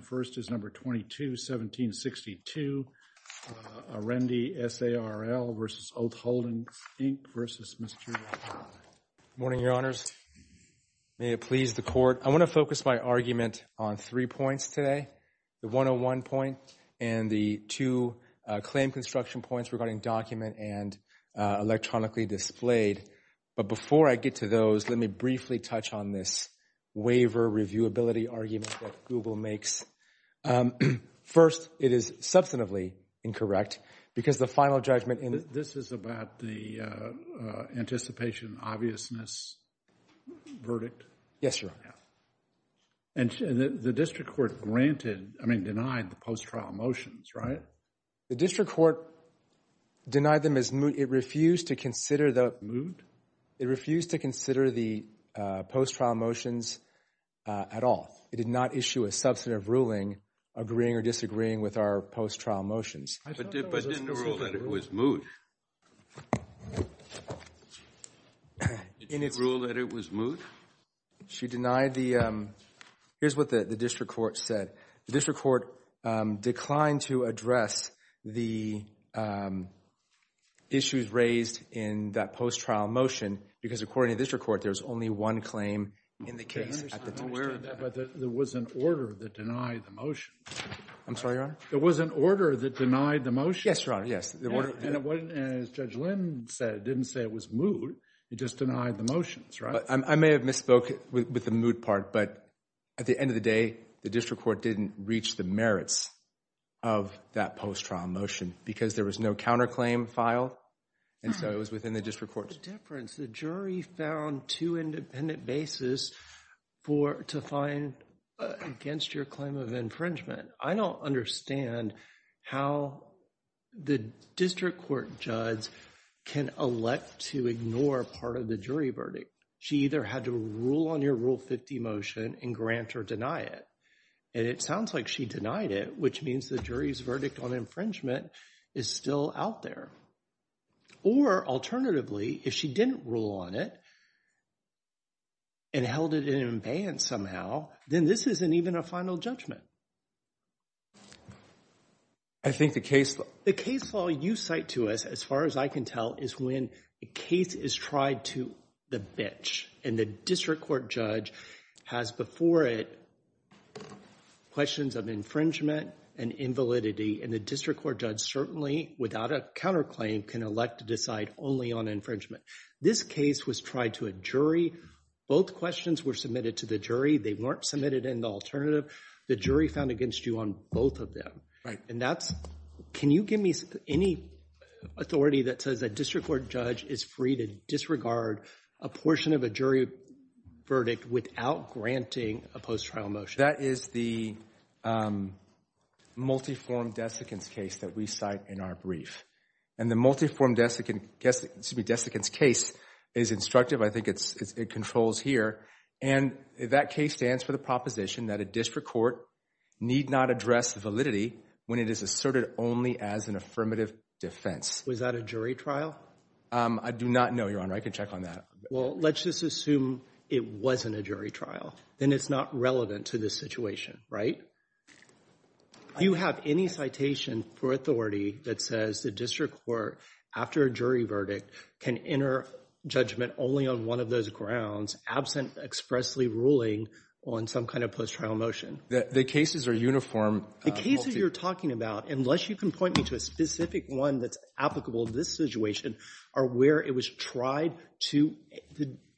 first is number 22-1762, Arendi S.A.R.L. v. Oath Holdings Inc. v. Mr. O'Connor. Good morning, Your Honors. May it please the Court. I want to focus my argument on three points today, the 101 point and the two claim construction points regarding document and electronically displayed. But before I get to those, let me briefly touch on this waiver reviewability argument that Google makes. First, it is substantively incorrect because the final judgment in… This is about the anticipation obviousness verdict? Yes, Your Honor. And the district court granted, I mean, denied the post-trial motions, right? The district court denied them as moot. It refused to consider the… Moot? It refused to consider the post-trial motions at all. It did not issue a substantive ruling agreeing or disagreeing with our post-trial motions. But didn't it rule that it was moot? Didn't it rule that it was moot? She denied the… Here's what the district court said. The district court declined to address the issues raised in that post-trial motion because according to the district court, there's only one claim in the case. There was an order that denied the motion. I'm sorry, Your Honor? There was an order that denied the motion. Yes, Your Honor, yes. As Judge Lynn said, it didn't say it was moot. It just denied the motions, right? I may have misspoke with the moot part, but at the end of the day, the district court didn't reach the merits of that post-trial motion because there was no counterclaim file and so it was within the district court's… What's the difference? The jury found two independent bases to find against your claim of infringement. I don't understand how the district court judge can elect to ignore part of the jury verdict. She either had to rule on your Rule 50 motion and grant or deny it. And it sounds like she denied it, which means the jury's on infringement is still out there. Or alternatively, if she didn't rule on it and held it in abeyance somehow, then this isn't even a final judgment. I think the case… The case law you cite to us, as far as I can tell, is when the case is tried to the bitch and the district court judge has before it questions of infringement and invalidity, and the district court judge certainly, without a counterclaim, can elect to decide only on infringement. This case was tried to a jury. Both questions were submitted to the jury. They weren't submitted in the alternative. The jury found against you on both of them. Right. And that's… Can you give me any authority that says a district court judge is free to disregard a portion of a jury verdict without granting a post-trial motion? That is the multi-form desiccant's case that we cite in our brief. And the multi-form desiccant's case is instructive. I think it controls here. And that case stands for the proposition that a district court need not address validity when it is asserted only as an affirmative defense. Was that a jury trial? I do not know, Your Honor. I can check on that. Well, let's just assume it wasn't a jury trial. Then it's not relevant to this situation, right? Do you have any citation for authority that says the district court, after a jury verdict, can enter judgment only on one of those grounds absent expressly ruling on some kind of post-trial motion? The cases are uniform. The cases you're about, unless you can point me to a specific one that's applicable to this situation, are where it was tried to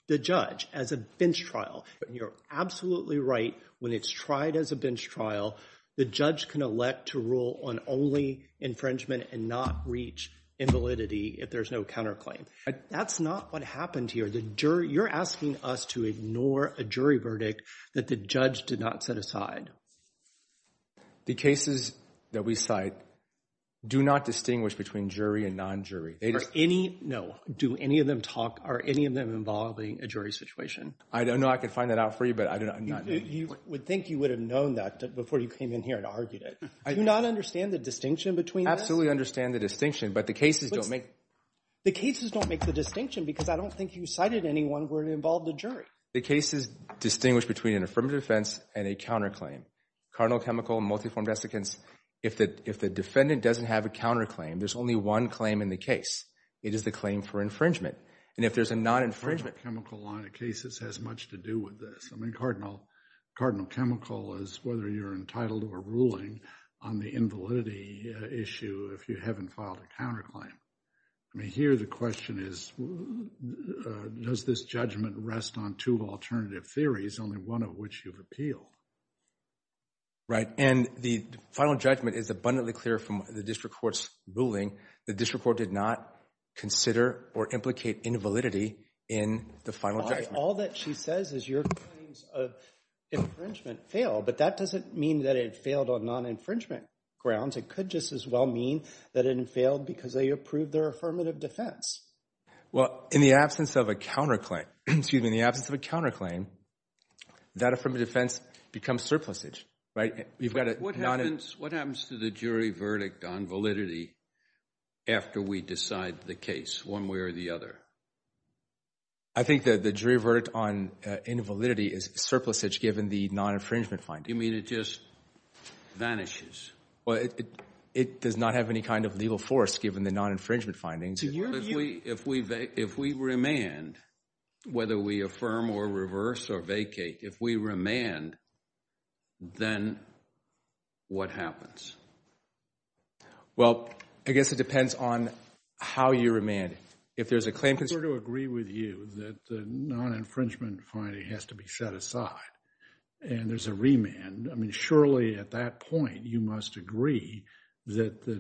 the judge as a bench trial. And you're absolutely right. When it's tried as a bench trial, the judge can elect to rule on only infringement and not reach invalidity if there's no counterclaim. That's not what happened here. You're asking us to ignore a jury verdict that the judge did not set aside. The cases that we cite do not distinguish between jury and non-jury. Are any, no, do any of them talk, are any of them involving a jury situation? I don't know. I could find that out for you, but I don't know. You would think you would have known that before you came in here and argued it. Do you not understand the distinction between this? Absolutely understand the distinction, but the cases don't make. The cases don't make the distinction because I don't think you cited anyone where it involved a jury. The cases distinguish between an affirmative defense and a counterclaim. Cardinal chemical, multi-form desiccants, if the defendant doesn't have a counterclaim, there's only one claim in the case. It is the claim for infringement. And if there's a non-infringement. Cardinal chemical line of cases has much to do with this. I mean, cardinal, cardinal chemical is whether you're entitled to a ruling on the invalidity issue if you haven't filed a counterclaim. I mean, here the question is, does this judgment rest on two alternative theories, only one of which you've appealed? Right, and the final judgment is abundantly clear from the district court's ruling. The district court did not consider or implicate invalidity in the final judgment. All that she says is your claims of infringement fail, but that doesn't mean that it failed on non-infringement grounds. It could just as well mean that it failed because they approved their affirmative defense. Well, in the absence of a counterclaim, excuse me, in the absence of a counterclaim, that affirmative defense becomes surplusage, right? What happens to the jury verdict on validity after we decide the case one way or the other? I think that the jury verdict on invalidity is surplusage given the non-infringement finding. You mean it just vanishes? Well, it does not have any kind of legal force given the non-infringement findings. If we remand, whether we affirm or reverse or vacate, if we remand, then what happens? Well, I guess it depends on how you remand. If there's a claim... I'm sure to agree with you that the non-infringement finding has to be set aside and there's a remand. I mean, surely at that point, you must agree that the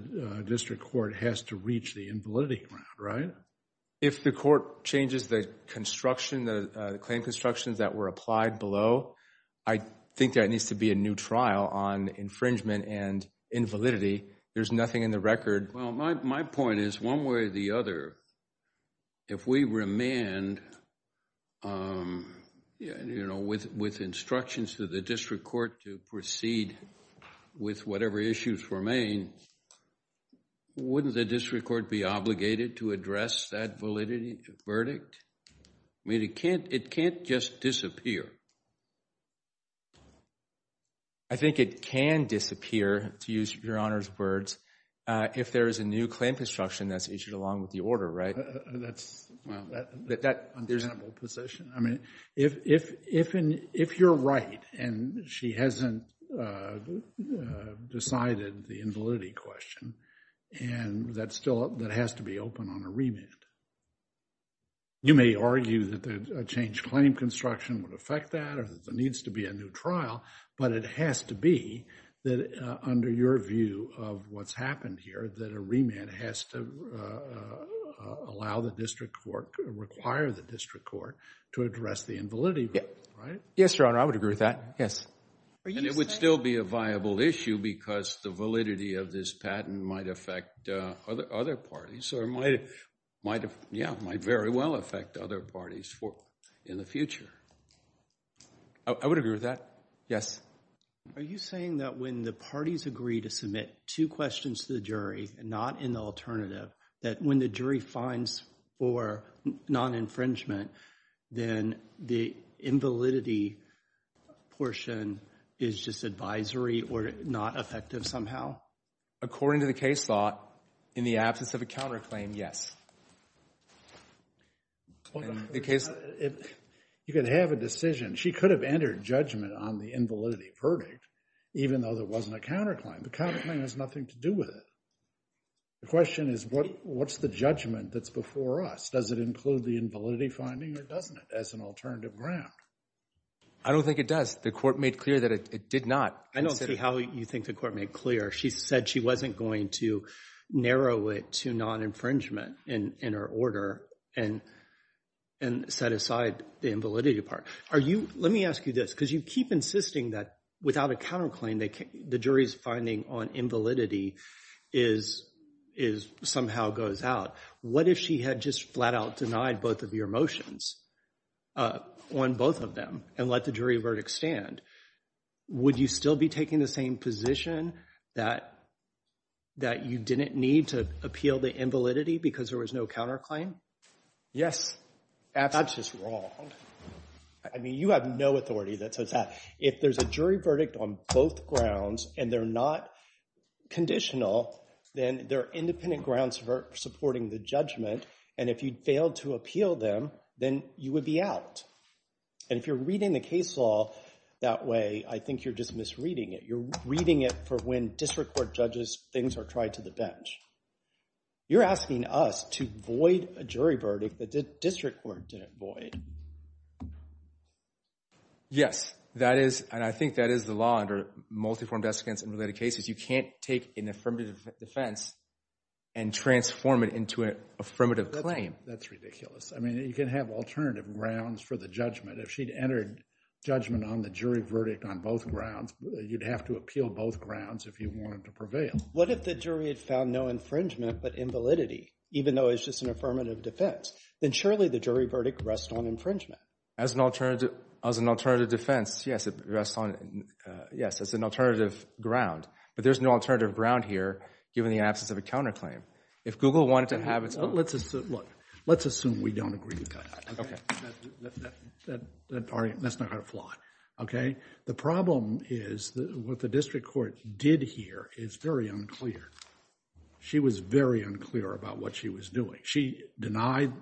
district court has to reach the invalidity ground, right? If the court changes the construction, the claim constructions that were applied below, I think there needs to be a new trial on infringement and invalidity. There's nothing in the record. My point is, one way or the other, if we remand with instructions to the district court to proceed with whatever issues remain, wouldn't the district court be obligated to address that validity verdict? I mean, it can't just disappear. I think it can disappear, to use your Honor's words, if there is a new claim construction that's issued along with the order, right? That's understandable position. I mean, if you're right and she hasn't decided the invalidity question, and that still has to be open on a remand, you may argue that a changed claim construction would affect the invalidity or that there needs to be a new trial, but it has to be that under your view of what's happened here, that a remand has to allow the district court, require the district court to address the invalidity, right? Yes, Your Honor. I would agree with that. Yes. It would still be a viable issue because the validity of this patent might affect other parties or might very well affect other parties in the future. I would agree with that. Yes. Are you saying that when the parties agree to submit two questions to the jury and not an alternative, that when the jury finds for non-infringement, then the invalidity portion is just advisory or not effective somehow? According to the case law, in the absence of a counterclaim, yes. You could have a decision. She could have entered judgment on the invalidity verdict even though there wasn't a counterclaim. The counterclaim has nothing to do with it. The question is what's the judgment that's before us? Does it include the invalidity finding or doesn't it as an alternative ground? I don't think it does. The court made clear that it did not. I don't see how you think the court made clear. She said she wasn't going to narrow it to non-infringement in her order and set aside the invalidity part. Let me ask you this because you keep insisting that without a counterclaim, the jury's finding on invalidity somehow goes out. What if she had just flat out denied both of your motions on both of them and let the jury verdict stand? Would you still be taking the same position that you didn't need to appeal the invalidity because there was no counterclaim? Yes. That's just wrong. You have no authority that says that. If there's a jury verdict on both grounds and they're not conditional, then there are independent grounds for supporting the judgment. If you failed to appeal them, then you would be out. If you're reading the case law that way, I think you're just misreading it. You're reading it for when district court judges, things are tried to the bench. You're asking us to void a jury verdict that the district court didn't void. Yes, and I think that is the law under multi-form desiccants in related cases. You can't take an affirmative defense and transform it into an affirmative claim. That's ridiculous. You can have alternative grounds for the judgment. If she'd entered judgment on the jury verdict on both grounds, you'd have to appeal both grounds if you wanted to prevail. What if the jury had found no infringement but invalidity, even though it's just an affirmative defense? Then surely the jury verdict rests on infringement. As an alternative defense, yes, it rests on it. Yes, it's an alternative ground, but there's no alternative ground here given the absence of a counterclaim. If Google wanted to okay. The problem is that what the district court did here is very unclear. She was very unclear about what she was doing. She denied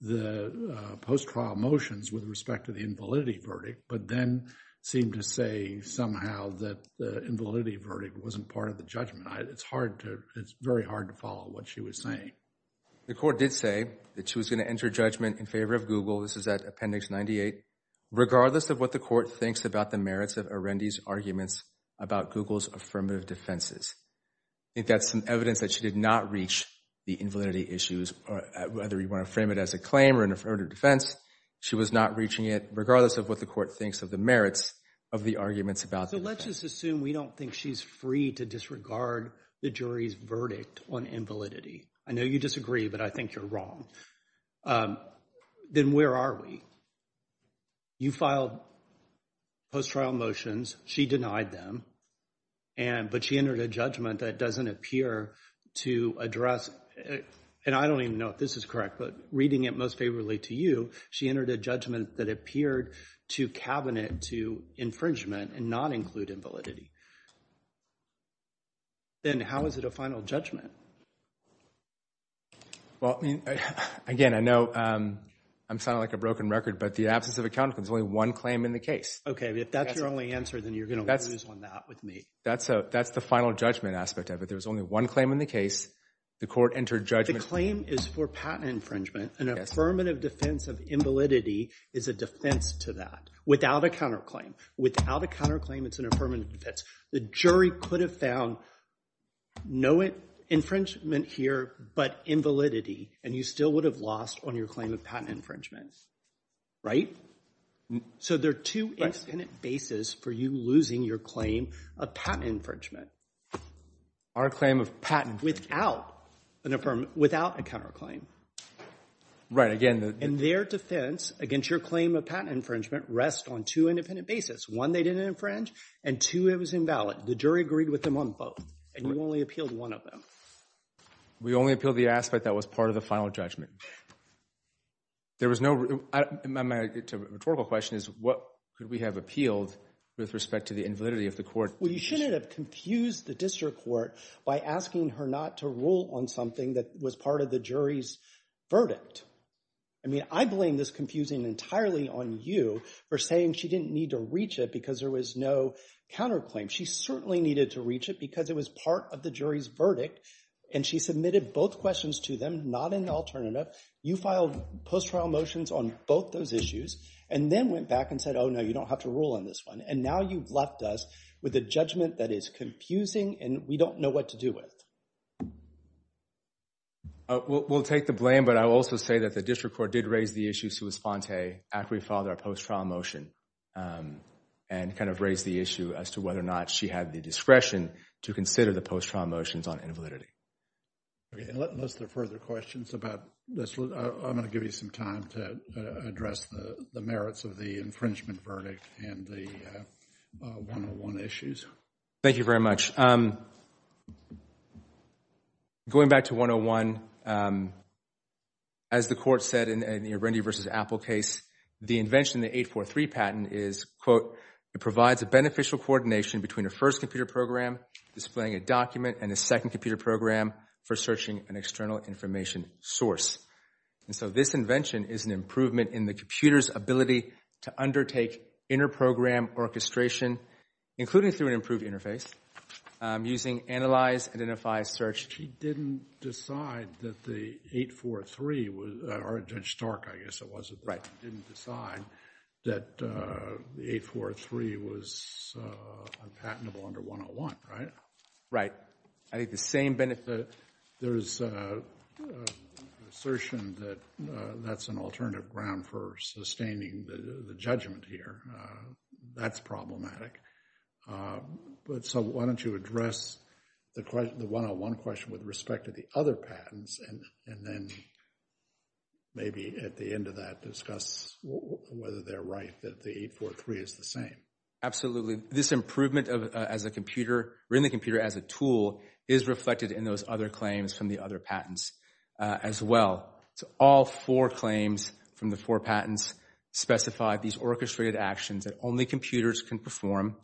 the post-trial motions with respect to the invalidity verdict, but then seemed to say somehow that the invalidity verdict wasn't part of the judgment. It's hard to, it's very hard to follow what she was saying. The court did say that she was going to enter judgment in favor of Google. This is at appendix 98. Regardless of what the court thinks about the merits of Arendi's arguments about Google's affirmative defenses. I think that's some evidence that she did not reach the invalidity issues, whether you want to frame it as a claim or an affirmative defense. She was not reaching it, regardless of what the court thinks of the merits of the arguments about that. Let's just assume we don't think she's free to disregard the jury's verdict on invalidity. I You filed post-trial motions. She denied them, but she entered a judgment that doesn't appear to address, and I don't even know if this is correct, but reading it most favorably to you, she entered a judgment that appeared to cabinet to infringement and not include invalidity. Then how is it a final judgment? Well, I mean, again, I know I'm sounding like a broken record, but the absence of a counterclaim, there's only one claim in the case. Okay. If that's your only answer, then you're going to lose on that with me. That's the final judgment aspect of it. There was only one claim in the case. The court entered judgment. The claim is for patent infringement. An affirmative defense of invalidity is a defense to that without a counterclaim. Without a counterclaim, it's an affirmative defense. The jury could have found no infringement here but invalidity, and you still would have lost on your claim of patent infringement, right? So there are two independent bases for you losing your claim of patent infringement. Our claim of patent infringement? Without an affirmative — without a counterclaim. Right. Again, the — And their defense against your claim of patent infringement rests on two independent bases. One, they didn't infringe, and two, it was invalid. The jury agreed with them on both, and you only appealed one of them. We only appealed the aspect that was part of the final judgment. There was no — my rhetorical question is, what could we have appealed with respect to the invalidity of the court? Well, you shouldn't have confused the district court by asking her not to rule on something that was part of the jury's verdict. I mean, I blame this confusing entirely on you for saying she didn't need to reach it because there was no counterclaim. She certainly needed to reach it because it was part of the jury's verdict, and she submitted both questions to them, not an alternative. You filed post-trial motions on both those issues and then went back and said, oh, no, you don't have to rule on this one. And now you've left us with a judgment that is confusing and we don't know what to do with. We'll take the blame, but I will also say that the district court did raise the issue, after we filed our post-trial motion, and kind of raised the issue as to whether or not she had the discretion to consider the post-trial motions on invalidity. Okay. Unless there are further questions about this, I'm going to give you some time to address the merits of the infringement verdict and the 101 issues. Thank you very much. Going back to 101, as the court said in the Randy v. Apple case, the invention of the 843 patent is, quote, it provides a beneficial coordination between a first computer program displaying a document and a second computer program for searching an external information source. And so this invention is an improvement in the computer's ability to undertake inner program orchestration, including through an improved interface, using analyze, identify, search. She didn't decide that the 843, or Judge Stark, I guess it was, didn't decide that the 843 was unpatentable under 101, right? Right. I think the same benefit... There's an assertion that that's an alternative ground for sustaining the judgment here. That's problematic. But so why don't you address the 101 question with respect to the other patents and then maybe at the end of that discuss whether they're right that the 843 is the same. Absolutely. This improvement as a computer, or in the computer as a tool, is reflected in those other claims from the other patents as well. So all four claims from the four patents specify these orchestrated actions that only computers can perform,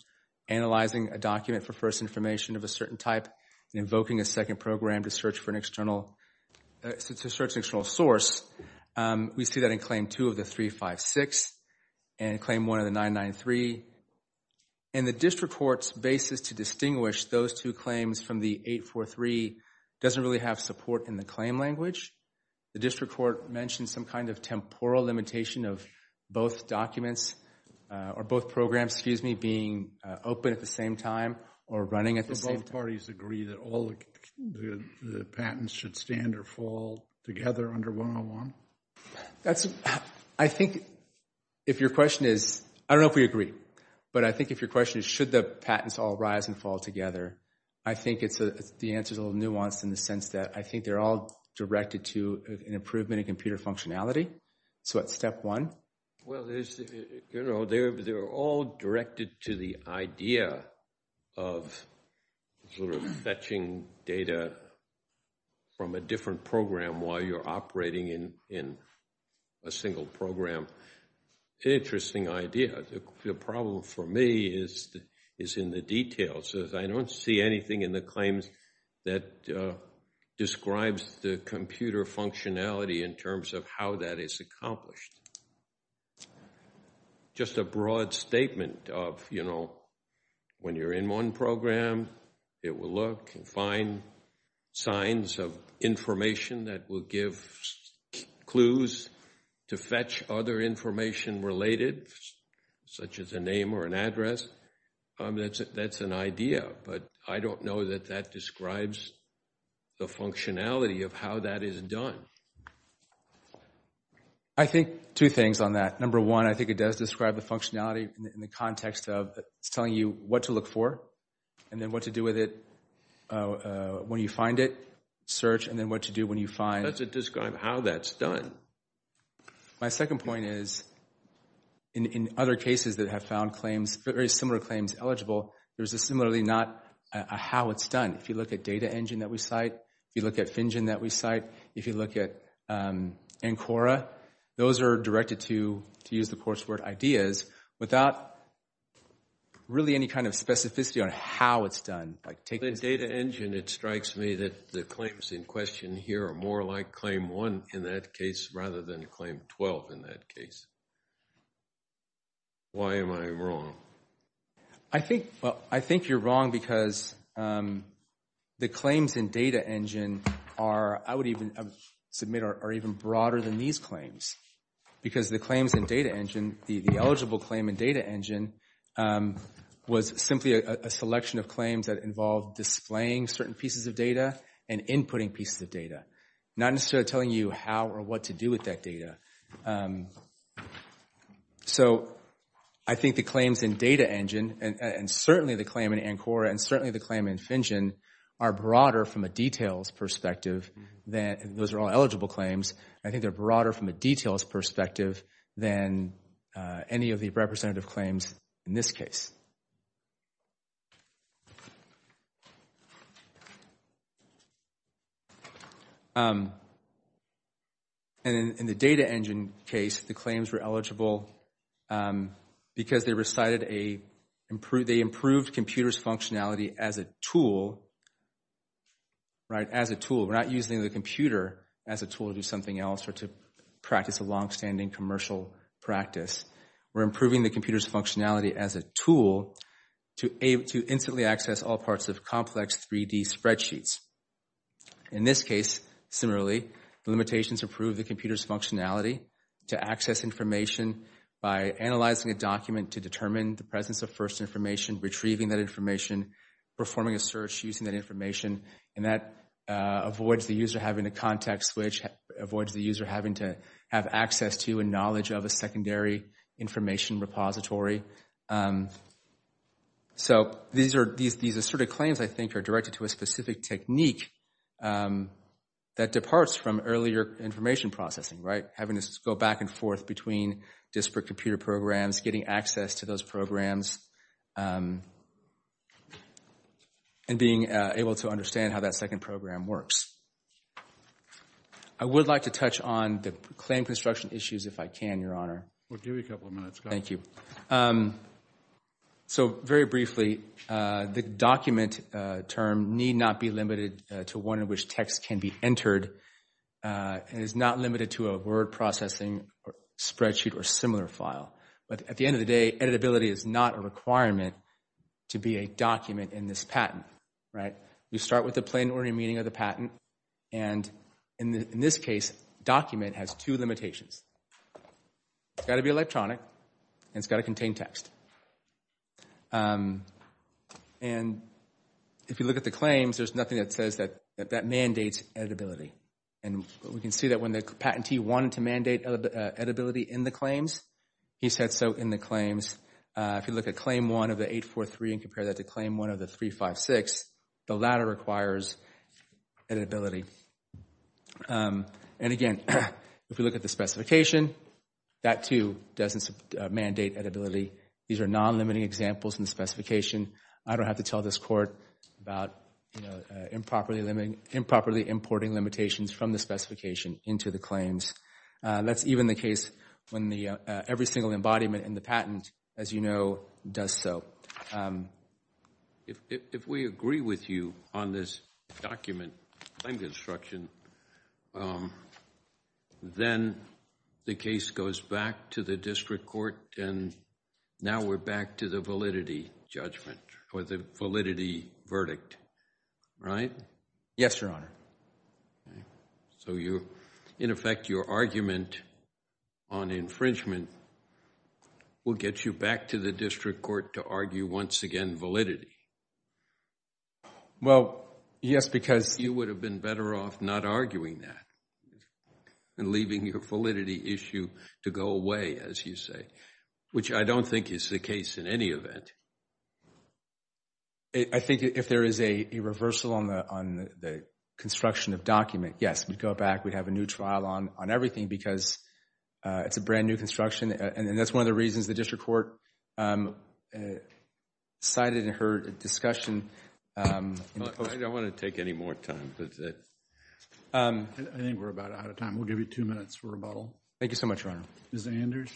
analyzing a document for first information of a certain type and invoking a second program to search for an external, to search an external source. We see that in Claim 2 of the 356 and Claim 1 of the 993. And the district court's basis to distinguish those two claims from the 843 doesn't really have support in the claim language. The district court mentioned some kind of temporal limitation of both documents, or both programs, excuse me, being open at the same time or running at the same time. So both parties agree that all the patents should stand or fall together under 101? I think if your question is... I don't know if we agree. But I think if your question is should the patents all rise and fall together, I think the answer is a little nuanced in the sense that I think they're all directed to an improvement in computer functionality. So that's step one. Well, they're all directed to the idea of sort of fetching data from a different program while you're operating in a single program. Interesting idea. The problem for me is in the details. I don't see anything in the claims that describes the computer functionality in terms of how that is accomplished. Just a broad statement of, you know, when you're in one program, it will look and find signs of information that will give clues to fetch other information related, such as a name or an address. I mean, that's an idea. But I don't know that that describes the functionality of how that is done. I think two things on that. Number one, I think it does describe the functionality in the context of it's telling you what to look for and then what to do with it when you find it. Search and then what to do when you find... Does it describe how that's done? My second point is, in other cases that have found claims, very similar claims eligible, there's a similarly not a how it's done. If you look at Data Engine that we cite, if you look at FinGen that we cite, if you look at ANCORA, those are directed to use the coursework ideas without really any kind of specificity on how it's done. Like take... In Data Engine, it strikes me that the claims in question here are more like claim one in that case rather than claim 12 in that case. Why am I wrong? I think you're wrong because the claims in Data Engine are, I would even submit, are even broader than these claims. Because the claims in Data Engine, the eligible claim in Data Engine, was simply a selection of claims that involved displaying certain pieces of data and inputting pieces of data. Not necessarily telling you how or what to do with that data. So I think the claims in Data Engine, and certainly the claim in ANCORA, and certainly the claim in FinGen, are broader from a details perspective than... Those are all eligible claims. I think they're broader from a details perspective than any of the representative claims in this case. And in the Data Engine case, the claims were eligible because they recited a... They improved computer's functionality as a tool, right? As a tool. We're not using the computer as a tool to do something else or to practice a longstanding commercial practice. We're improving the computer's functionality as a tool to instantly access all parts of complex 3D spreadsheets. In this case, similarly, the limitations improve the computer's functionality to access information by analyzing a document to determine the presence of first information, retrieving that information, performing a search using that information, and that avoids the user having to contact switch, avoids the user having to have access to and knowledge of a secondary information repository. So these asserted claims, I think, are directed to a specific technique. That departs from earlier information processing, right? Having to go back and forth between disparate computer programs, getting access to those programs, and being able to understand how that second program works. I would like to touch on the claim construction issues if I can, Your Honor. We'll give you a couple of minutes. Thank you. So very briefly, the document term need not be limited to one in which text can be entered and is not limited to a word processing spreadsheet or similar file. But at the end of the day, editability is not a requirement to be a document in this patent, right? We start with the plain ordinary meaning of the patent. And in this case, document has two limitations. It's got to be electronic, and it's got to contain text. And if you look at the claims, there's nothing that says that that mandates editability. And we can see that when the patentee wanted to mandate editability in the claims, he said so in the claims. If you look at claim one of the 843 and compare that to claim one of the 356, the latter requires editability. And again, if we look at the specification, that too doesn't mandate editability. These are non-limiting examples in the specification. I don't have to tell this court about improperly importing limitations from the specification into the claims. That's even the case when every single embodiment in the patent, as you know, does so. So if we agree with you on this document, time construction, then the case goes back to the district court, and now we're back to the validity judgment, or the validity verdict, right? Yes, Your Honor. So you, in effect, your argument on infringement will get you back to the district court to argue, once again, validity? Well, yes, because... You would have been better off not arguing that and leaving your validity issue to go away, as you say, which I don't think is the case in any event. I think if there is a reversal on the construction of document, yes, we'd go back. We'd have a new trial on everything because it's a brand new construction, and that's one of the reasons the district court cited in her discussion... I don't want to take any more time, but... I think we're about out of time. We'll give you two minutes for rebuttal. Thank you so much, Your Honor. Ms. Anders?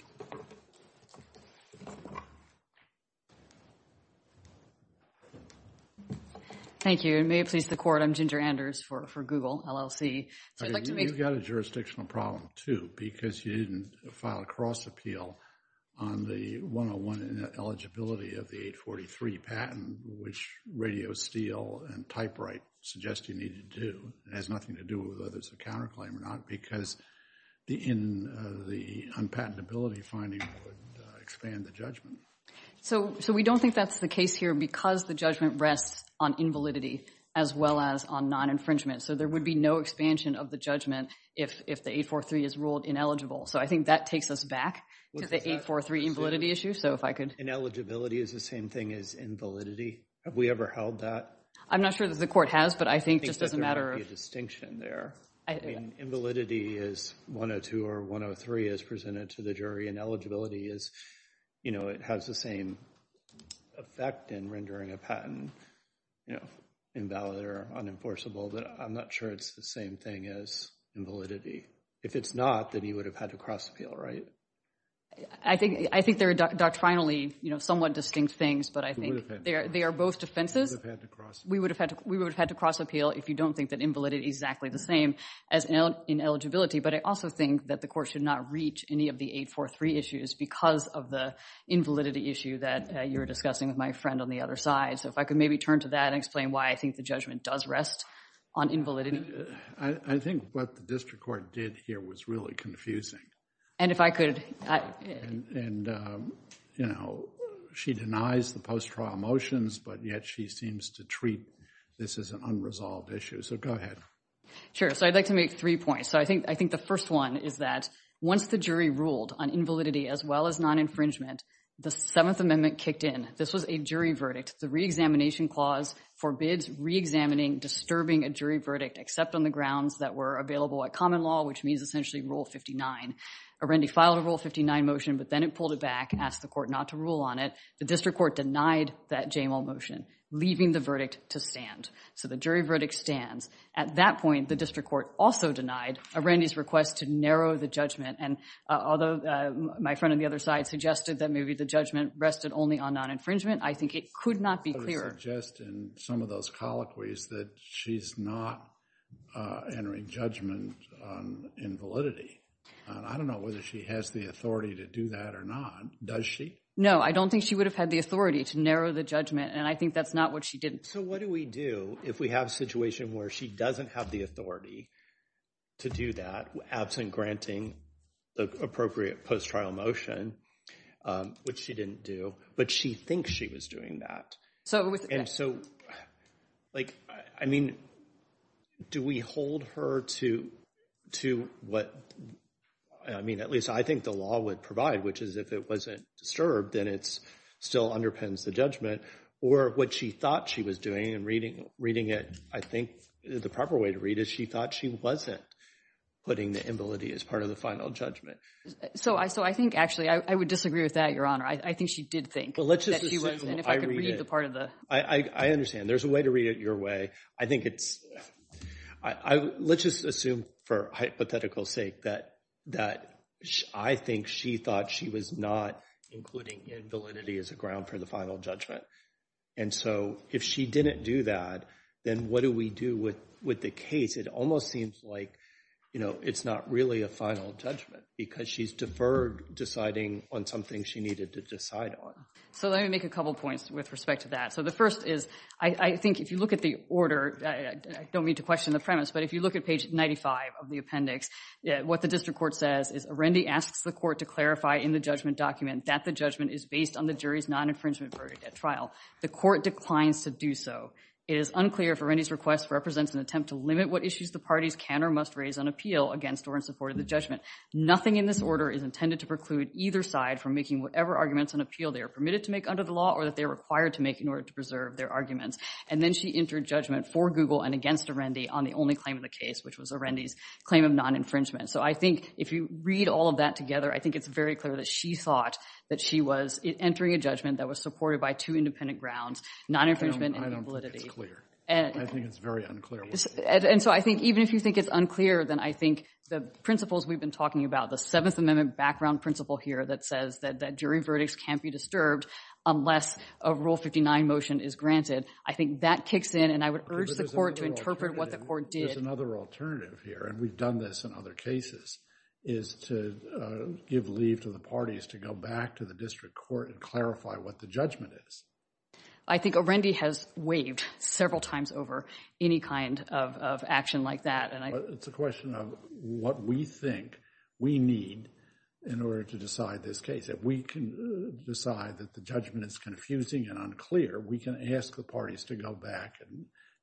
Thank you, and may it please the court, I'm Ginger Anders for Google LLC. You've got a jurisdictional problem, too, because you didn't file a cross appeal on the 101 ineligibility of the 843 patent, which RadioSteel and TypeWrite suggest you need to do. It has nothing to do with whether it's a counterclaim or not because the unpatentability finding would expand the judgment. So we don't think that's the case here because the judgment rests on invalidity as well as on non-infringement. So there would be no expansion of the judgment if the 843 is ruled ineligible. So I think that takes us back to the 843 invalidity issue. So if I could... Ineligibility is the same thing as invalidity. Have we ever held that? I'm not sure that the court has, but I think just as a matter of... I think there might be a distinction there. Invalidity is 102 or 103 as presented to the jury, and eligibility is, you know, it has the same effect in rendering a patent invalid or unenforceable. But I'm not sure it's the same thing as invalidity. If it's not, then you would have had to cross appeal, right? I think they're doctrinally, you know, somewhat distinct things, but I think they are both defenses. We would have had to cross appeal if you don't think that invalidity is exactly the same as ineligibility. But I also think that the court should not reach any of the 843 issues because of the invalidity issue that you're discussing with my friend on the other side. So if I could maybe turn to that and explain why I think the judgment does rest on invalidity. I think what the district court did here was really confusing. And if I could... And, you know, she denies the post-trial motions, but yet she seems to treat this as an unresolved issue. So go ahead. Sure. So I'd like to make three points. So I think the first one is that once the jury ruled on invalidity as well as non-infringement, the Seventh Amendment kicked in. This was a jury verdict. The reexamination clause forbids reexamining disturbing a jury verdict except on the grounds that were available at common law, which means essentially Rule 59. Arendi filed a Rule 59 motion, but then it pulled it back, asked the court not to rule on it. The district court denied that JML motion, leaving the verdict to stand. So the jury verdict stands. At that point, the district court also denied Arendi's request to narrow the judgment. And although my friend on the other side suggested that maybe the judgment rested only on infringement, I think it could not be clearer. I would suggest in some of those colloquies that she's not entering judgment on invalidity. I don't know whether she has the authority to do that or not. Does she? No, I don't think she would have had the authority to narrow the judgment. And I think that's not what she did. So what do we do if we have a situation where she doesn't have the authority to do that, absent granting the appropriate post-trial motion, which she didn't do, but she thinks she was doing that? And so, I mean, do we hold her to what, I mean, at least I think the law would provide, which is if it wasn't disturbed, then it still underpins the judgment. Or what she thought she was doing in reading it, I think the proper way to read it, she thought she wasn't putting the invalidity as part of the final judgment. So I think, actually, I would disagree with that, Your Honor. I think she did think that she was, and if I could read the part of the- I understand. There's a way to read it your way. I think it's, let's just assume for hypothetical sake that I think she thought she was not including invalidity as a ground for the final judgment. And so if she didn't do that, then what do we do with the case? It almost seems like, you know, it's not really a final judgment because she's deferred deciding on something she needed to decide on. So let me make a couple points with respect to that. So the first is, I think if you look at the order, I don't mean to question the premise, but if you look at page 95 of the appendix, what the district court says is, Arendi asks the court to clarify in the judgment document that the judgment is based on the jury's non-infringement verdict at trial. The court declines to do so. It is unclear if Arendi's request represents an attempt to limit what issues the parties can or must raise on appeal against or in support of the judgment. Nothing in this order is intended to preclude either side from making whatever arguments on appeal they are permitted to make under the law or that they are required to make in order to preserve their arguments. And then she entered judgment for Google and against Arendi on the only claim in the case, which was Arendi's claim of non-infringement. So I think if you read all of that together, I think it's very clear that she thought that she was entering a judgment that was supported by two independent grounds, non-infringement and invalidity. I don't think it's clear. I think it's very unclear. And so I think even if you think it's unclear, then I think the principles we've been talking about, the Seventh Amendment background principle here that says that jury verdicts can't be disturbed unless a Rule 59 motion is granted, I think that kicks in. And I would urge the court to interpret what the court did. There's another alternative here. And we've done this in other cases, is to give leave to the parties to go back to the district court and clarify what the judgment is. I think Arendi has waived several times over any kind of action like that. It's a question of what we think we need in order to decide this case. If we can decide that the judgment is confusing and unclear, we can ask the parties to go back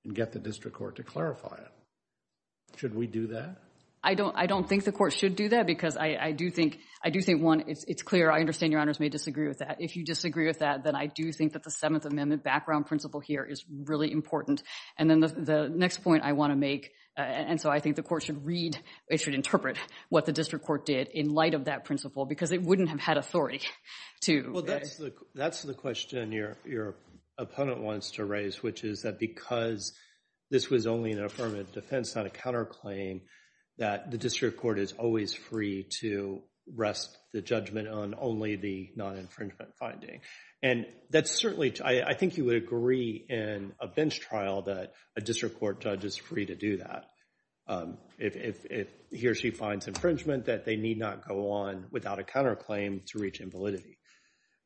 and get the district court to clarify it. Should we do that? I don't think the court should do that because I do think, one, it's clear. I understand your honors may disagree with that. If you disagree with that, then I do think that the Seventh Amendment background principle here is really important. And then the next point I want to make, and so I think the court should read, it should interpret what the district court did in light of that principle because it wouldn't have had authority to. Well, that's the question your opponent wants to raise, which is that because this was only an affirmative defense, not a counterclaim, that the district court is always free to rest the judgment on only the non-infringement finding. And that's certainly, I think you would agree in a bench trial that a district court judge is free to do that if he or she finds infringement that they need not go on without a counterclaim to reach invalidity.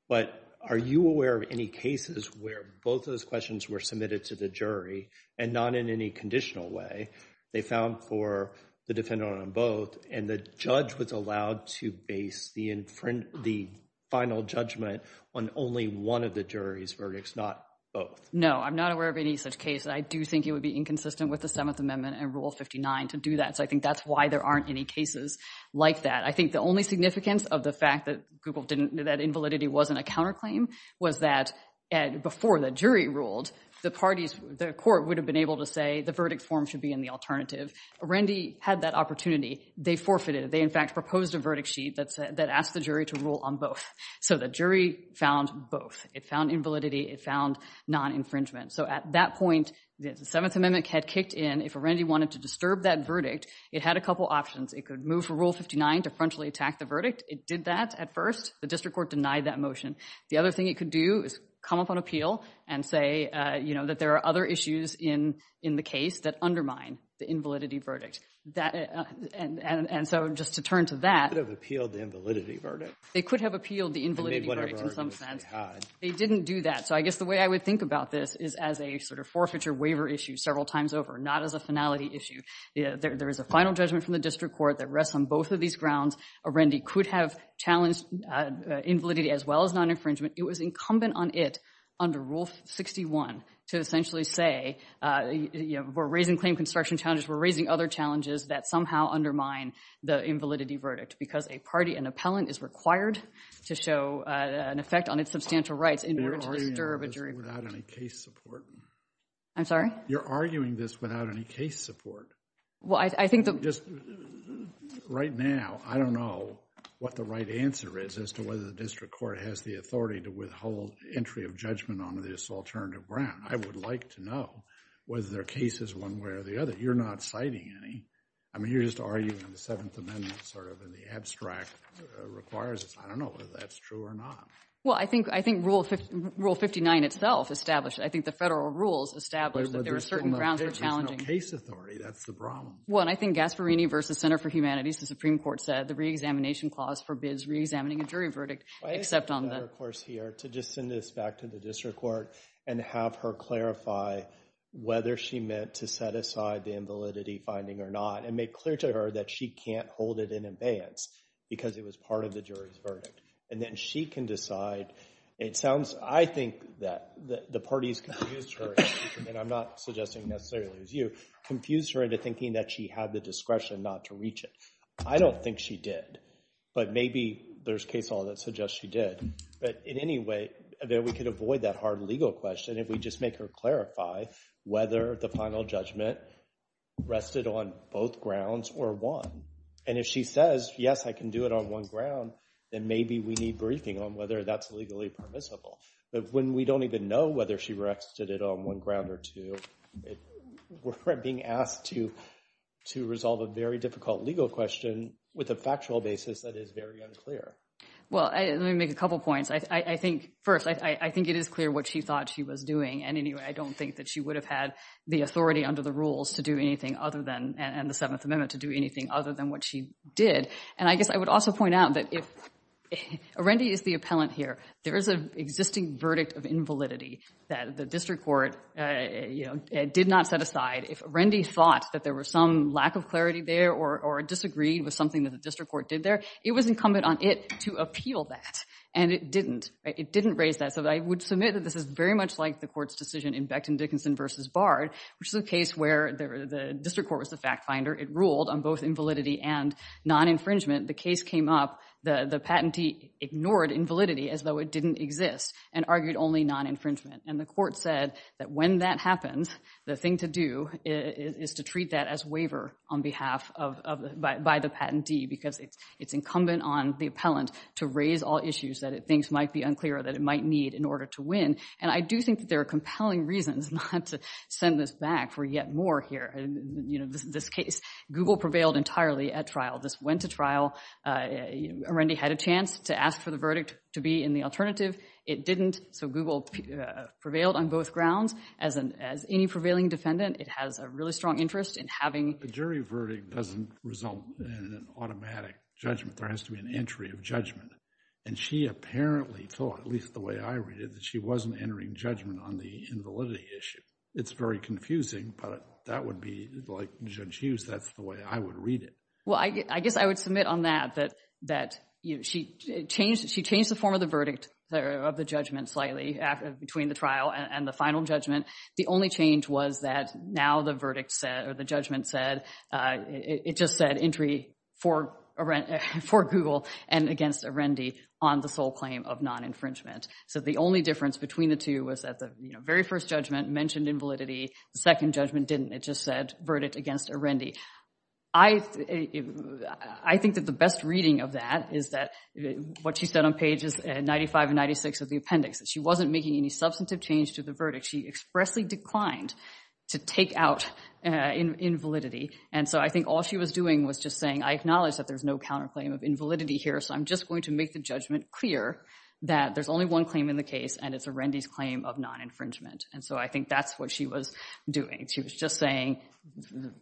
But are you aware of any cases where both of those questions were submitted to the jury and not in any conditional way? They found for the defendant on both and the judge was allowed to base the final judgment on only one of the jury's verdicts, not both. No, I'm not aware of any such case. I do think it would be inconsistent with the Seventh Amendment and Rule 59 to do that. So I think that's why there aren't any cases like that. I think the only significance of the fact that Google didn't, that invalidity wasn't a counterclaim was that before the jury ruled, the parties, the court would have been able to say the verdict form should be in the alternative. Randy had that opportunity. They forfeited. They, in fact, proposed a verdict sheet that asked the jury to rule on both. So the jury found both. It found invalidity. It found non-infringement. So at that point, the Seventh Amendment had kicked in. If Randy wanted to disturb that verdict, it had a couple options. It could move for Rule 59 to frontally attack the verdict. It did that at first. The district court denied that motion. The other thing it could do is come up on appeal and say, you know, that there are other issues in the case that undermine the invalidity verdict. And so just to turn to that. They could have appealed the invalidity verdict. They could have appealed the invalidity verdict in some sense. They didn't do that. So I guess the way I would think about this is as a sort of forfeiture waiver issue several times over, not as a finality issue. There is a final judgment from the district court that rests on both of these grounds. Randy could have challenged invalidity as well as non-infringement. It was incumbent on it under Rule 61 to essentially say, you know, we're raising claim construction challenges. We're raising other challenges that somehow undermine the invalidity verdict because a party and appellant is required to show an effect on its substantial rights in order to disturb a jury. You're arguing this without any case support. I'm sorry? You're arguing this without any case support. Well, I think the— Just right now, I don't know what the right answer is as to whether the district court has the authority to withhold entry of judgment on this alternative ground. I would like to know whether there are cases one way or the other. You're not citing any. I mean, you're just arguing the Seventh Amendment sort of in the abstract requires this. I don't know whether that's true or not. Well, I think Rule 59 itself established—I think the federal rules established that there are certain grounds for challenging. There's no case authority. That's the problem. Well, and I think Gasparini v. Center for Humanities, the Supreme Court said the re-examination clause forbids re-examining a jury verdict except on the— I think we have a better course here to just send this back to the district court and have her clarify whether she meant to set aside the invalidity finding or not and make clear to her that she can't hold it in abeyance because it was part of the jury's verdict. And then she can decide. It sounds—I think that the parties confused her—and I'm not suggesting necessarily it was you—confused her into thinking that she had the discretion not to reach it. I don't think she did, but maybe there's case law that suggests she did. But in any way, we could avoid that hard legal question if we just make her clarify whether the final judgment rested on both grounds or one. And if she says, yes, I can do it on one ground, then maybe we need briefing on whether that's legally permissible. But when we don't even know whether she re-exited it on one ground or two, we're being asked to resolve a very difficult legal question with a factual basis that is very unclear. Well, let me make a couple points. First, I think it is clear what she thought she was doing. And in any way, I don't think that she would have had the authority under the rules to do anything other than—and the Seventh Amendment to do anything other than what she did. And I guess I would also point out that if—Rendy is the appellant here. There is an existing verdict of invalidity that the district court did not set aside. If Rendy thought that there was some lack of clarity there or disagreed with something that the district court did there, it was incumbent on it to appeal that. And it didn't. It didn't raise that. So I would submit that this is very much like the court's decision in Becton-Dickinson v. Bard, which is a case where the district court was the fact finder. It ruled on both invalidity and non-infringement. The case came up. The patentee ignored invalidity as though it didn't exist and argued only non-infringement. And the court said that when that happens, the thing to do is to treat that as waiver on behalf of—by the patentee because it's incumbent on the appellant to raise all issues that it thinks might be unclear or that it might need in order to win. And I do think that there are compelling reasons not to send this back for yet more here. You know, this case—Google prevailed entirely at trial. This went to trial. Rendy had a chance to ask for the verdict to be in the alternative. It didn't. So Google prevailed on both grounds. As any prevailing defendant, it has a really strong interest in having— A jury verdict doesn't result in an automatic judgment. There has to be an entry of judgment. And she apparently thought, at least the way I read it, that she wasn't entering judgment on the invalidity issue. It's very confusing, but that would be—like Judge Hughes, that's the way I would read it. Well, I guess I would submit on that, that she changed the form of the verdict—of the judgment slightly between the trial and the final judgment. The only change was that now the verdict said—or the judgment said—it just said entry for Google and against a Rendy on the sole claim of non-infringement. So the only difference between the two was that the very first judgment mentioned invalidity. The second judgment didn't. It just said verdict against a Rendy. I think that the best reading of that is that what she said on pages 95 and 96 of the appendix. She wasn't making any substantive change to the verdict. She expressly declined to take out invalidity. And so I think all she was doing was just saying, I acknowledge that there's no counterclaim of invalidity here, so I'm just going to make the judgment clear that there's only one claim in the case, and it's a Rendy's claim of non-infringement. And so I think that's what she was doing. She was just saying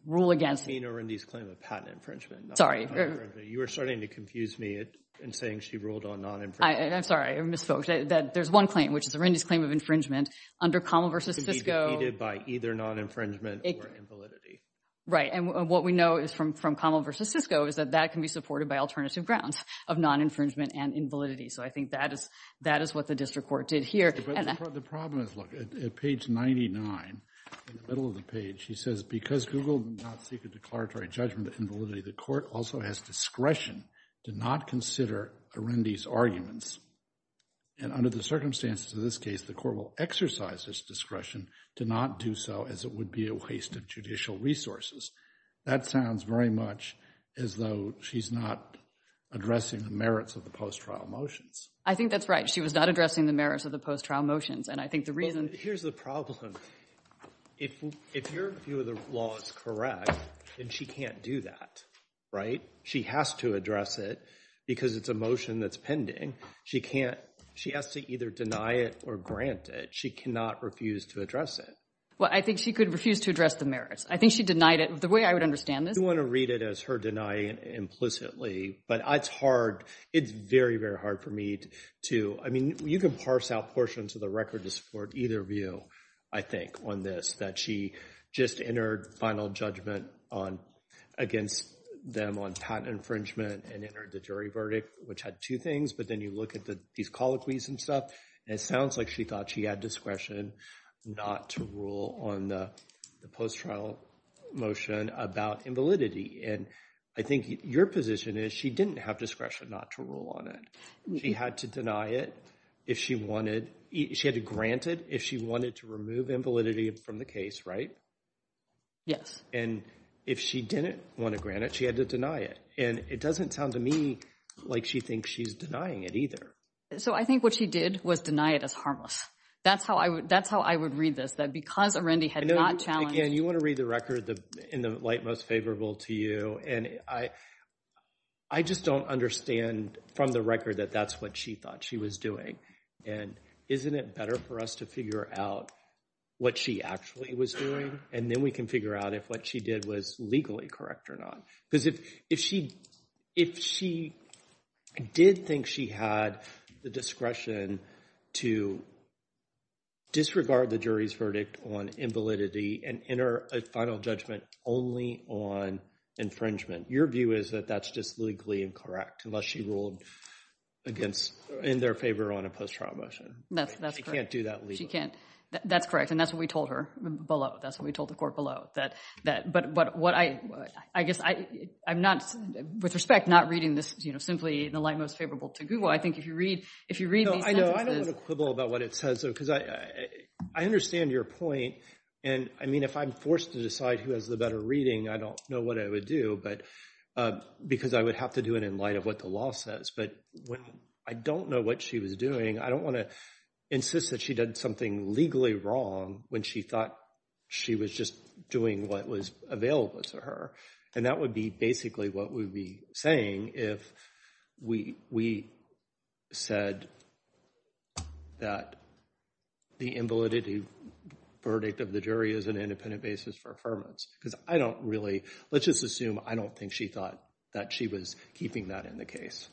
rule against— You mean a Rendy's claim of patent infringement, not non-infringement. You are starting to confuse me in saying she ruled on non-infringement. I'm sorry, I misspoke. There's one claim, which is a Rendy's claim of infringement. Under Commel v. Cisco— It can be defeated by either non-infringement or invalidity. Right. And what we know from Commel v. Cisco is that that can be supported by alternative grounds of non-infringement and invalidity. So I think that is what the district court did here. The problem is, look, at page 99, in the middle of the page, she says, because Google did not seek a declaratory judgment of invalidity, the court also has discretion to not consider a Rendy's arguments. And under the circumstances of this case, the court will exercise its discretion to not do so, as it would be a waste of judicial resources. That sounds very much as though she's not addressing the merits of the post-trial motions. I think that's right. She was not addressing the merits of the post-trial motions. And I think the reason— Here's the problem. If your view of the law is correct, then she can't do that, right? She has to address it because it's a motion that's pending. She can't. She has to either deny it or grant it. She cannot refuse to address it. Well, I think she could refuse to address the merits. I think she denied it. The way I would understand this— You want to read it as her denying it implicitly. But it's hard. It's very, very hard for me to— I mean, you can parse out portions of the record to support either view, I think, on this. That she just entered final judgment against them on patent infringement and entered the jury verdict, which had two things. But then you look at these colloquies and stuff, and it sounds like she thought she had discretion not to rule on the post-trial motion about invalidity. And I think your position is she didn't have discretion not to rule on it. She had to deny it if she wanted— she had to grant it if she wanted to remove invalidity from the case, right? Yes. And if she didn't want to grant it, she had to deny it. And it doesn't sound to me like she thinks she's denying it either. So I think what she did was deny it as harmless. That's how I would read this. That because Arendi had not challenged— Again, you want to read the record in the light most favorable to you. And I just don't understand from the record that that's what she thought she was doing. And isn't it better for us to figure out what she actually was doing? And then we can figure out if what she did was legally correct or not. Because if she did think she had the discretion to disregard the jury's verdict on invalidity and enter a final judgment only on infringement, your view is that that's just legally incorrect, unless she ruled against—in their favor on a post-trial motion. That's correct. She can't do that legally. She can't. That's correct. And that's what we told her below. That's what we told the court below. But what I—I guess I'm not—with respect, not reading this simply in the light most favorable to Google. I think if you read these sentences— No, I know. I don't want to quibble about what it says. Because I understand your point. And I mean, if I'm forced to decide who has the better reading, I don't know what I would do. But because I would have to do it in light of what the law says. But when I don't know what she was doing, I don't want to insist that she did something legally wrong when she thought she was just doing what was available to her. And that would be basically what we'd be saying if we said that the invalidity verdict of the jury is an independent basis for affirmance. Because I don't really—let's just assume I don't think she thought that she was keeping that in the case.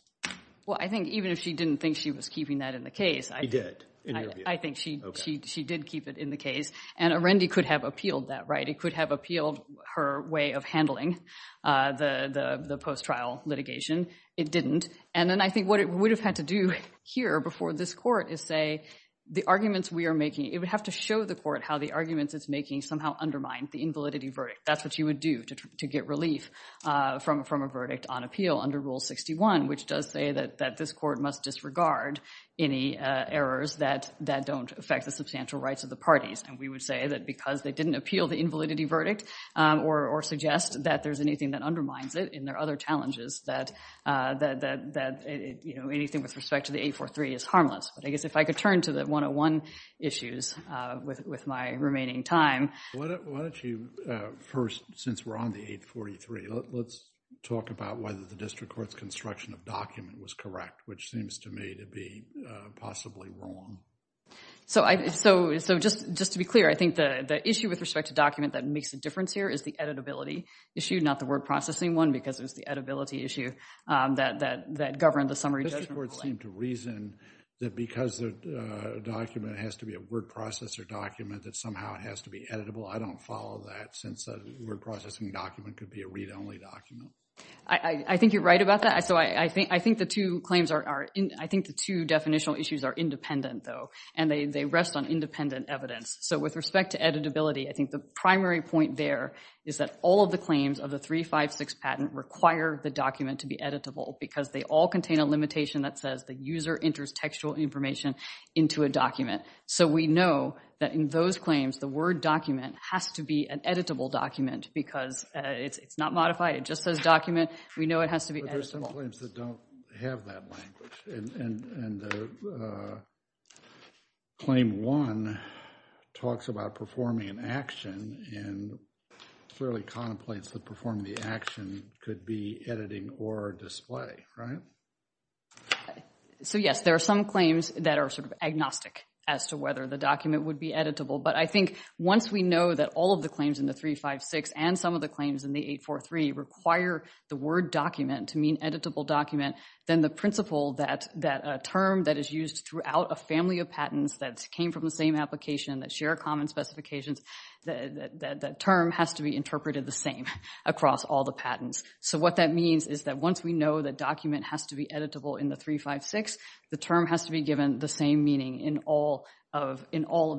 Well, I think even if she didn't think she was keeping that in the case— She did, in your view. She did keep it in the case. And Arendi could have appealed that, right? It could have appealed her way of handling the post-trial litigation. It didn't. And then I think what it would have had to do here before this court is say, the arguments we are making—it would have to show the court how the arguments it's making somehow undermine the invalidity verdict. That's what you would do to get relief from a verdict on appeal under Rule 61, which does say that this court must disregard any errors that don't affect the substantial rights of the parties. And we would say that because they didn't appeal the invalidity verdict or suggest that there's anything that undermines it in their other challenges, that anything with respect to the 843 is harmless. But I guess if I could turn to the 101 issues with my remaining time. Why don't you first, since we're on the 843, let's talk about whether the district court's construction of document was correct, which seems to me to be possibly wrong. So just to be clear, I think the issue with respect to document that makes a difference here is the editability issue, not the word processing one, because it was the editability issue that governed the summary judgment. District courts seem to reason that because a document has to be a word processor document, that somehow it has to be editable. I don't follow that, since a word processing document could be a read-only document. I think you're right about that. So I think the two claims are, I think the two definitional issues are independent, though, and they rest on independent evidence. So with respect to editability, I think the primary point there is that all of the claims of the 356 patent require the document to be editable, because they all contain a limitation that says the user enters textual information into a document. So we know that in those claims, the word document has to be an editable document, because it's not modified. It just says document. We know it has to be editable. But there's some claims that don't have that language. And claim one talks about performing an action, and clearly contemplates that performing the action could be editing or display, right? So yes, there are some claims that are sort of agnostic as to whether the document would be editable. But I think once we know that all of the claims in the 356 and some of the claims in the 843 require the word document to mean editable document, then the principle that a term that is used throughout a family of patents that came from the same application that share common specifications, that term has to be interpreted the same across all the patents. So what that means is that once we know that document has to be editable in the 356, the term has to be given the same meaning in all of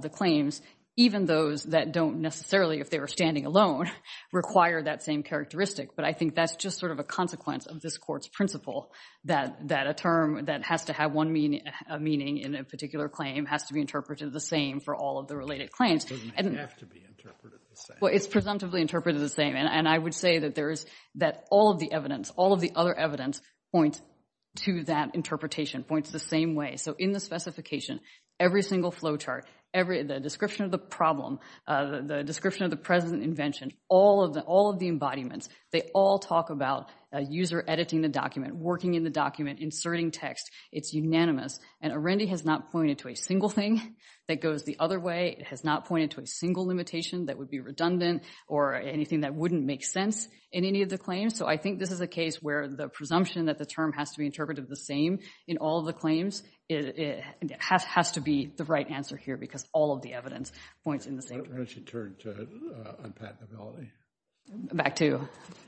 the claims, even those that don't necessarily, if they were standing alone, require that same characteristic. But I think that's just sort of a consequence of this Court's principle, that a term that has to have one meaning in a particular claim has to be interpreted the same for all of the related claims. It doesn't have to be interpreted the same. Well, it's presumptively interpreted the same. And I would say that all of the evidence, all of the other evidence points to that interpretation, points the same way. So in the specification, every single flowchart, the description of the problem, the description of the present invention, all of the embodiments, they all talk about a user editing the document, working in the document, inserting text. It's unanimous. And Arendi has not pointed to a single thing that goes the other way. It has not pointed to a single limitation that would be redundant or anything that wouldn't make sense in any of the claims. So I think this is a case where the presumption that the term has to be interpreted the same in all of the claims has to be the right answer here, because all of the evidence points in the same direction. Why don't you turn to unpatentability? Back to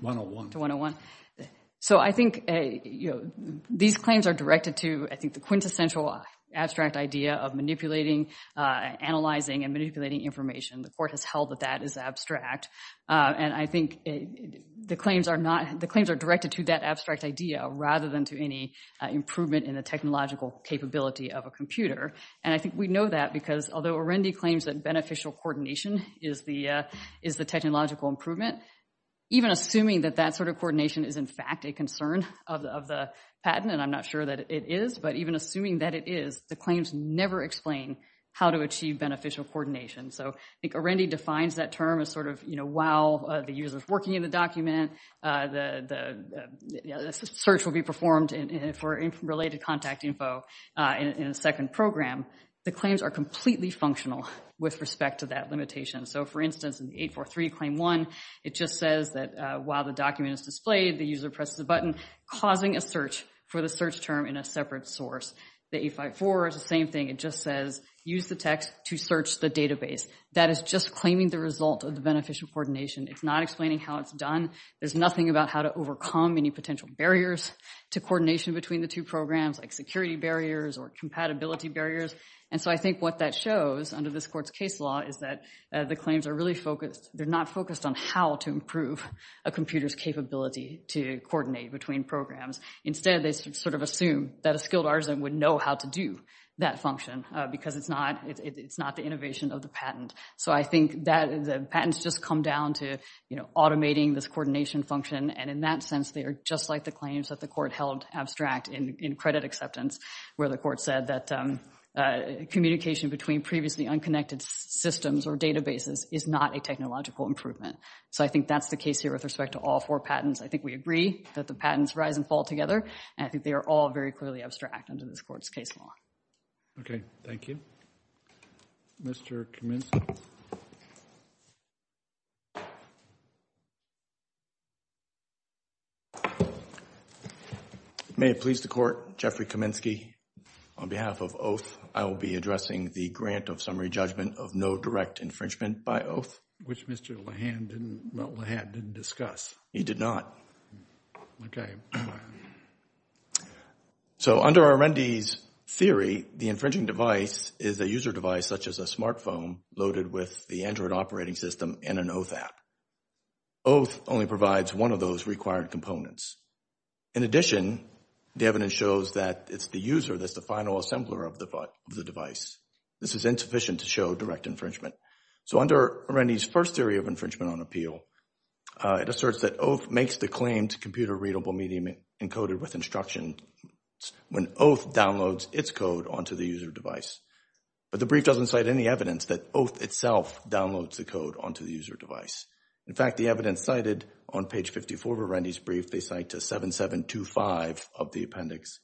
101. To 101. So I think these claims are directed to, I think, the quintessential abstract idea of manipulating, analyzing, and manipulating information. The Court has held that that is abstract. And I think the claims are directed to that abstract idea rather than to any improvement in the technological capability of a computer. And I think we know that because although Arendi claims that beneficial coordination is the technological improvement, even assuming that that sort of coordination is, in fact, a concern of the patent, and I'm not sure that it is, but even assuming that it is, the claims never explain how to achieve beneficial coordination. So I think Arendi defines that term as sort of, you know, while the user's working in the document, the search will be performed for related contact info in a second program, the claims are completely functional with respect to that limitation. So for instance, in 843 Claim 1, it just says that while the document is displayed, the user presses a button, causing a search for the search term in a separate source. The 854 is the same thing. It just says, use the text to search the database. That is just claiming the result of the beneficial coordination. It's not explaining how it's done. There's nothing about how to overcome any potential barriers to coordination between the two programs, like security barriers or compatibility barriers. And so I think what that shows under this court's case law is that the claims are really focused, they're not focused on how to improve a computer's capability to coordinate between programs. Instead, they sort of assume that a skilled artisan would know how to do that function, because it's not the innovation of the patent. So I think that the patents just come down to automating this coordination function, and in that sense, they are just like the claims that the court held abstract in credit acceptance, where the court said that communication between previously unconnected systems or databases is not a technological improvement. So I think that's the case here with respect to all four patents. I think we agree that the patents rise and fall together, and I think they are all very clearly abstract under this court's case law. Okay, thank you. Mr. Kaminsky? May it please the Court, Jeffrey Kaminsky, on behalf of Oath, I will be addressing the grant of summary judgment of no direct infringement by Oath. Which Mr. Lehan didn't discuss. He did not. Okay. So under Arendi's theory, the infringing device is a user device such as a smartphone loaded with the Android operating system and an Oath app. Oath only provides one of those required components. In addition, the evidence shows that it's the user that's the final assembler of the device. This is insufficient to show direct infringement. So under Arendi's first theory of infringement on appeal, it asserts that Oath makes the computer-readable medium encoded with instructions when Oath downloads its code onto the user device. But the brief doesn't cite any evidence that Oath itself downloads the code onto the user device. In fact, the evidence cited on page 54 of Arendi's brief, they cite to 7725 of the appendix.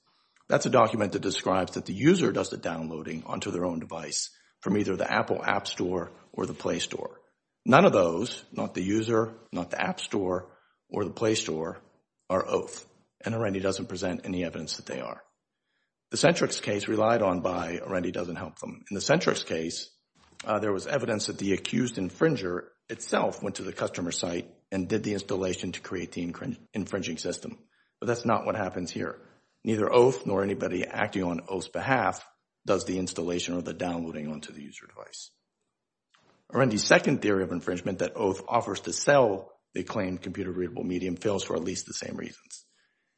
That's a document that describes that the user does the downloading onto their own device from either the Apple App Store or the Play Store. None of those, not the user, not the App Store or the Play Store, are Oath. And Arendi doesn't present any evidence that they are. The Centrix case relied on by Arendi doesn't help them. In the Centrix case, there was evidence that the accused infringer itself went to the customer site and did the installation to create the infringing system. But that's not what happens here. Neither Oath nor anybody acting on Oath's behalf does the installation or the downloading onto the user device. Arendi's second theory of infringement that Oath offers to sell the claimed computer readable medium fails for at least the same reasons.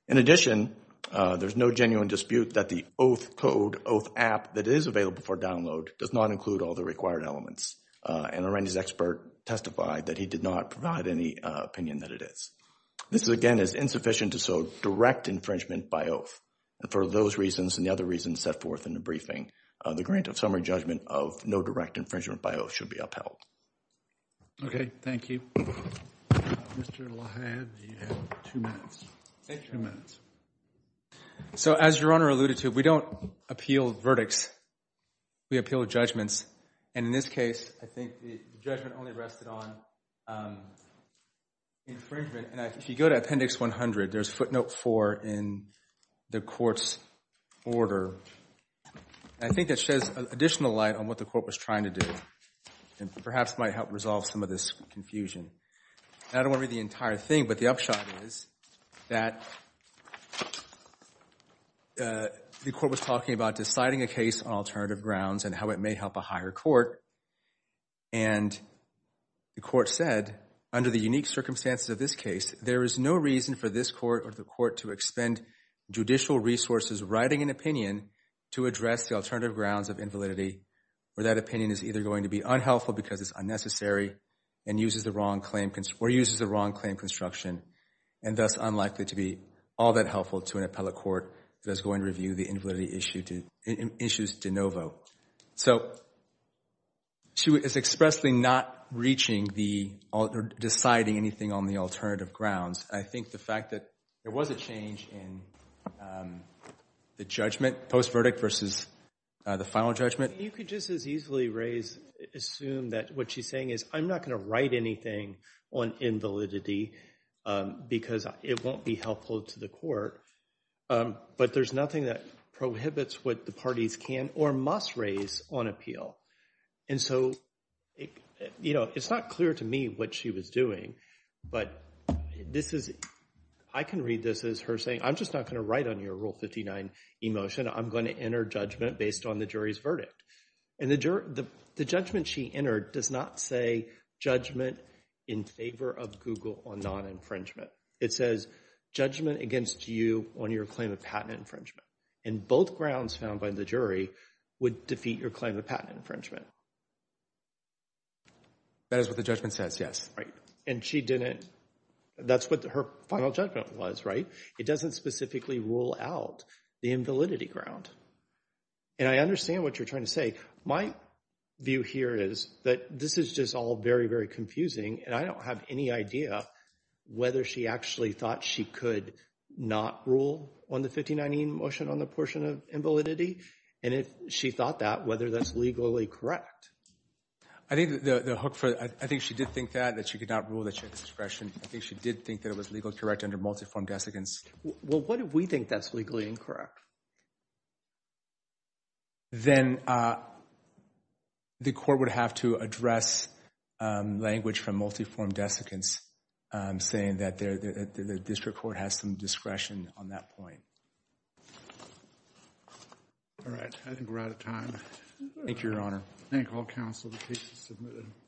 In addition, there's no genuine dispute that the Oath code, Oath app that is available for download does not include all the required elements. And Arendi's expert testified that he did not provide any opinion that it is. This again is insufficient to show direct infringement by Oath. And for those reasons and the other reasons set forth in the briefing, the grant of summary judgment of no direct infringement by Oath should be upheld. Okay, thank you. Mr. Lahad, you have two minutes. Thank you, Your Honor. So as Your Honor alluded to, we don't appeal verdicts. We appeal judgments. And in this case, I think the judgment only rested on infringement. And if you go to Appendix 100, there's footnote 4 in the court's order. And I think that sheds additional light on what the court was trying to do and perhaps might help resolve some of this confusion. I don't want to read the entire thing, but the upshot is that the court was talking about deciding a case on alternative grounds and how it may help a higher court. And the court said, under the unique circumstances of this case, there is no reason for this to address the alternative grounds of invalidity where that opinion is either going to be unhelpful because it's unnecessary or uses the wrong claim construction and thus unlikely to be all that helpful to an appellate court that's going to review the invalidity issues de novo. So it's expressly not deciding anything on the alternative grounds. I think the fact that there was a change in the judgment post-verdict versus the final judgment. You could just as easily assume that what she's saying is, I'm not going to write anything on invalidity because it won't be helpful to the court. But there's nothing that prohibits what the parties can or must raise on appeal. And so it's not clear to me what she was doing, but I can read this as her saying, I'm just not going to write on your Rule 59 emotion. I'm going to enter judgment based on the jury's verdict. And the judgment she entered does not say judgment in favor of Google on non-infringement. It says judgment against you on your claim of patent infringement. And both grounds found by the jury would defeat your claim of patent infringement. That is what the judgment says, yes. Right. And she didn't, that's what her final judgment was, right? It doesn't specifically rule out the invalidity ground. And I understand what you're trying to say. My view here is that this is just all very, very confusing. And I don't have any idea whether she actually thought she could not rule on the 1519 motion on the portion of invalidity. And if she thought that, whether that's legally correct. I think the hook for, I think she did think that, that she could not rule that she had discretion. I think she did think that it was legally correct under multi-form desiccants. Well, what if we think that's legally incorrect? Then the court would have to address language from multi-form desiccants saying that the district court has some discretion on that point. All right. I think we're out of time. Thank you, Your Honor. Thank all counsel, the case is submitted.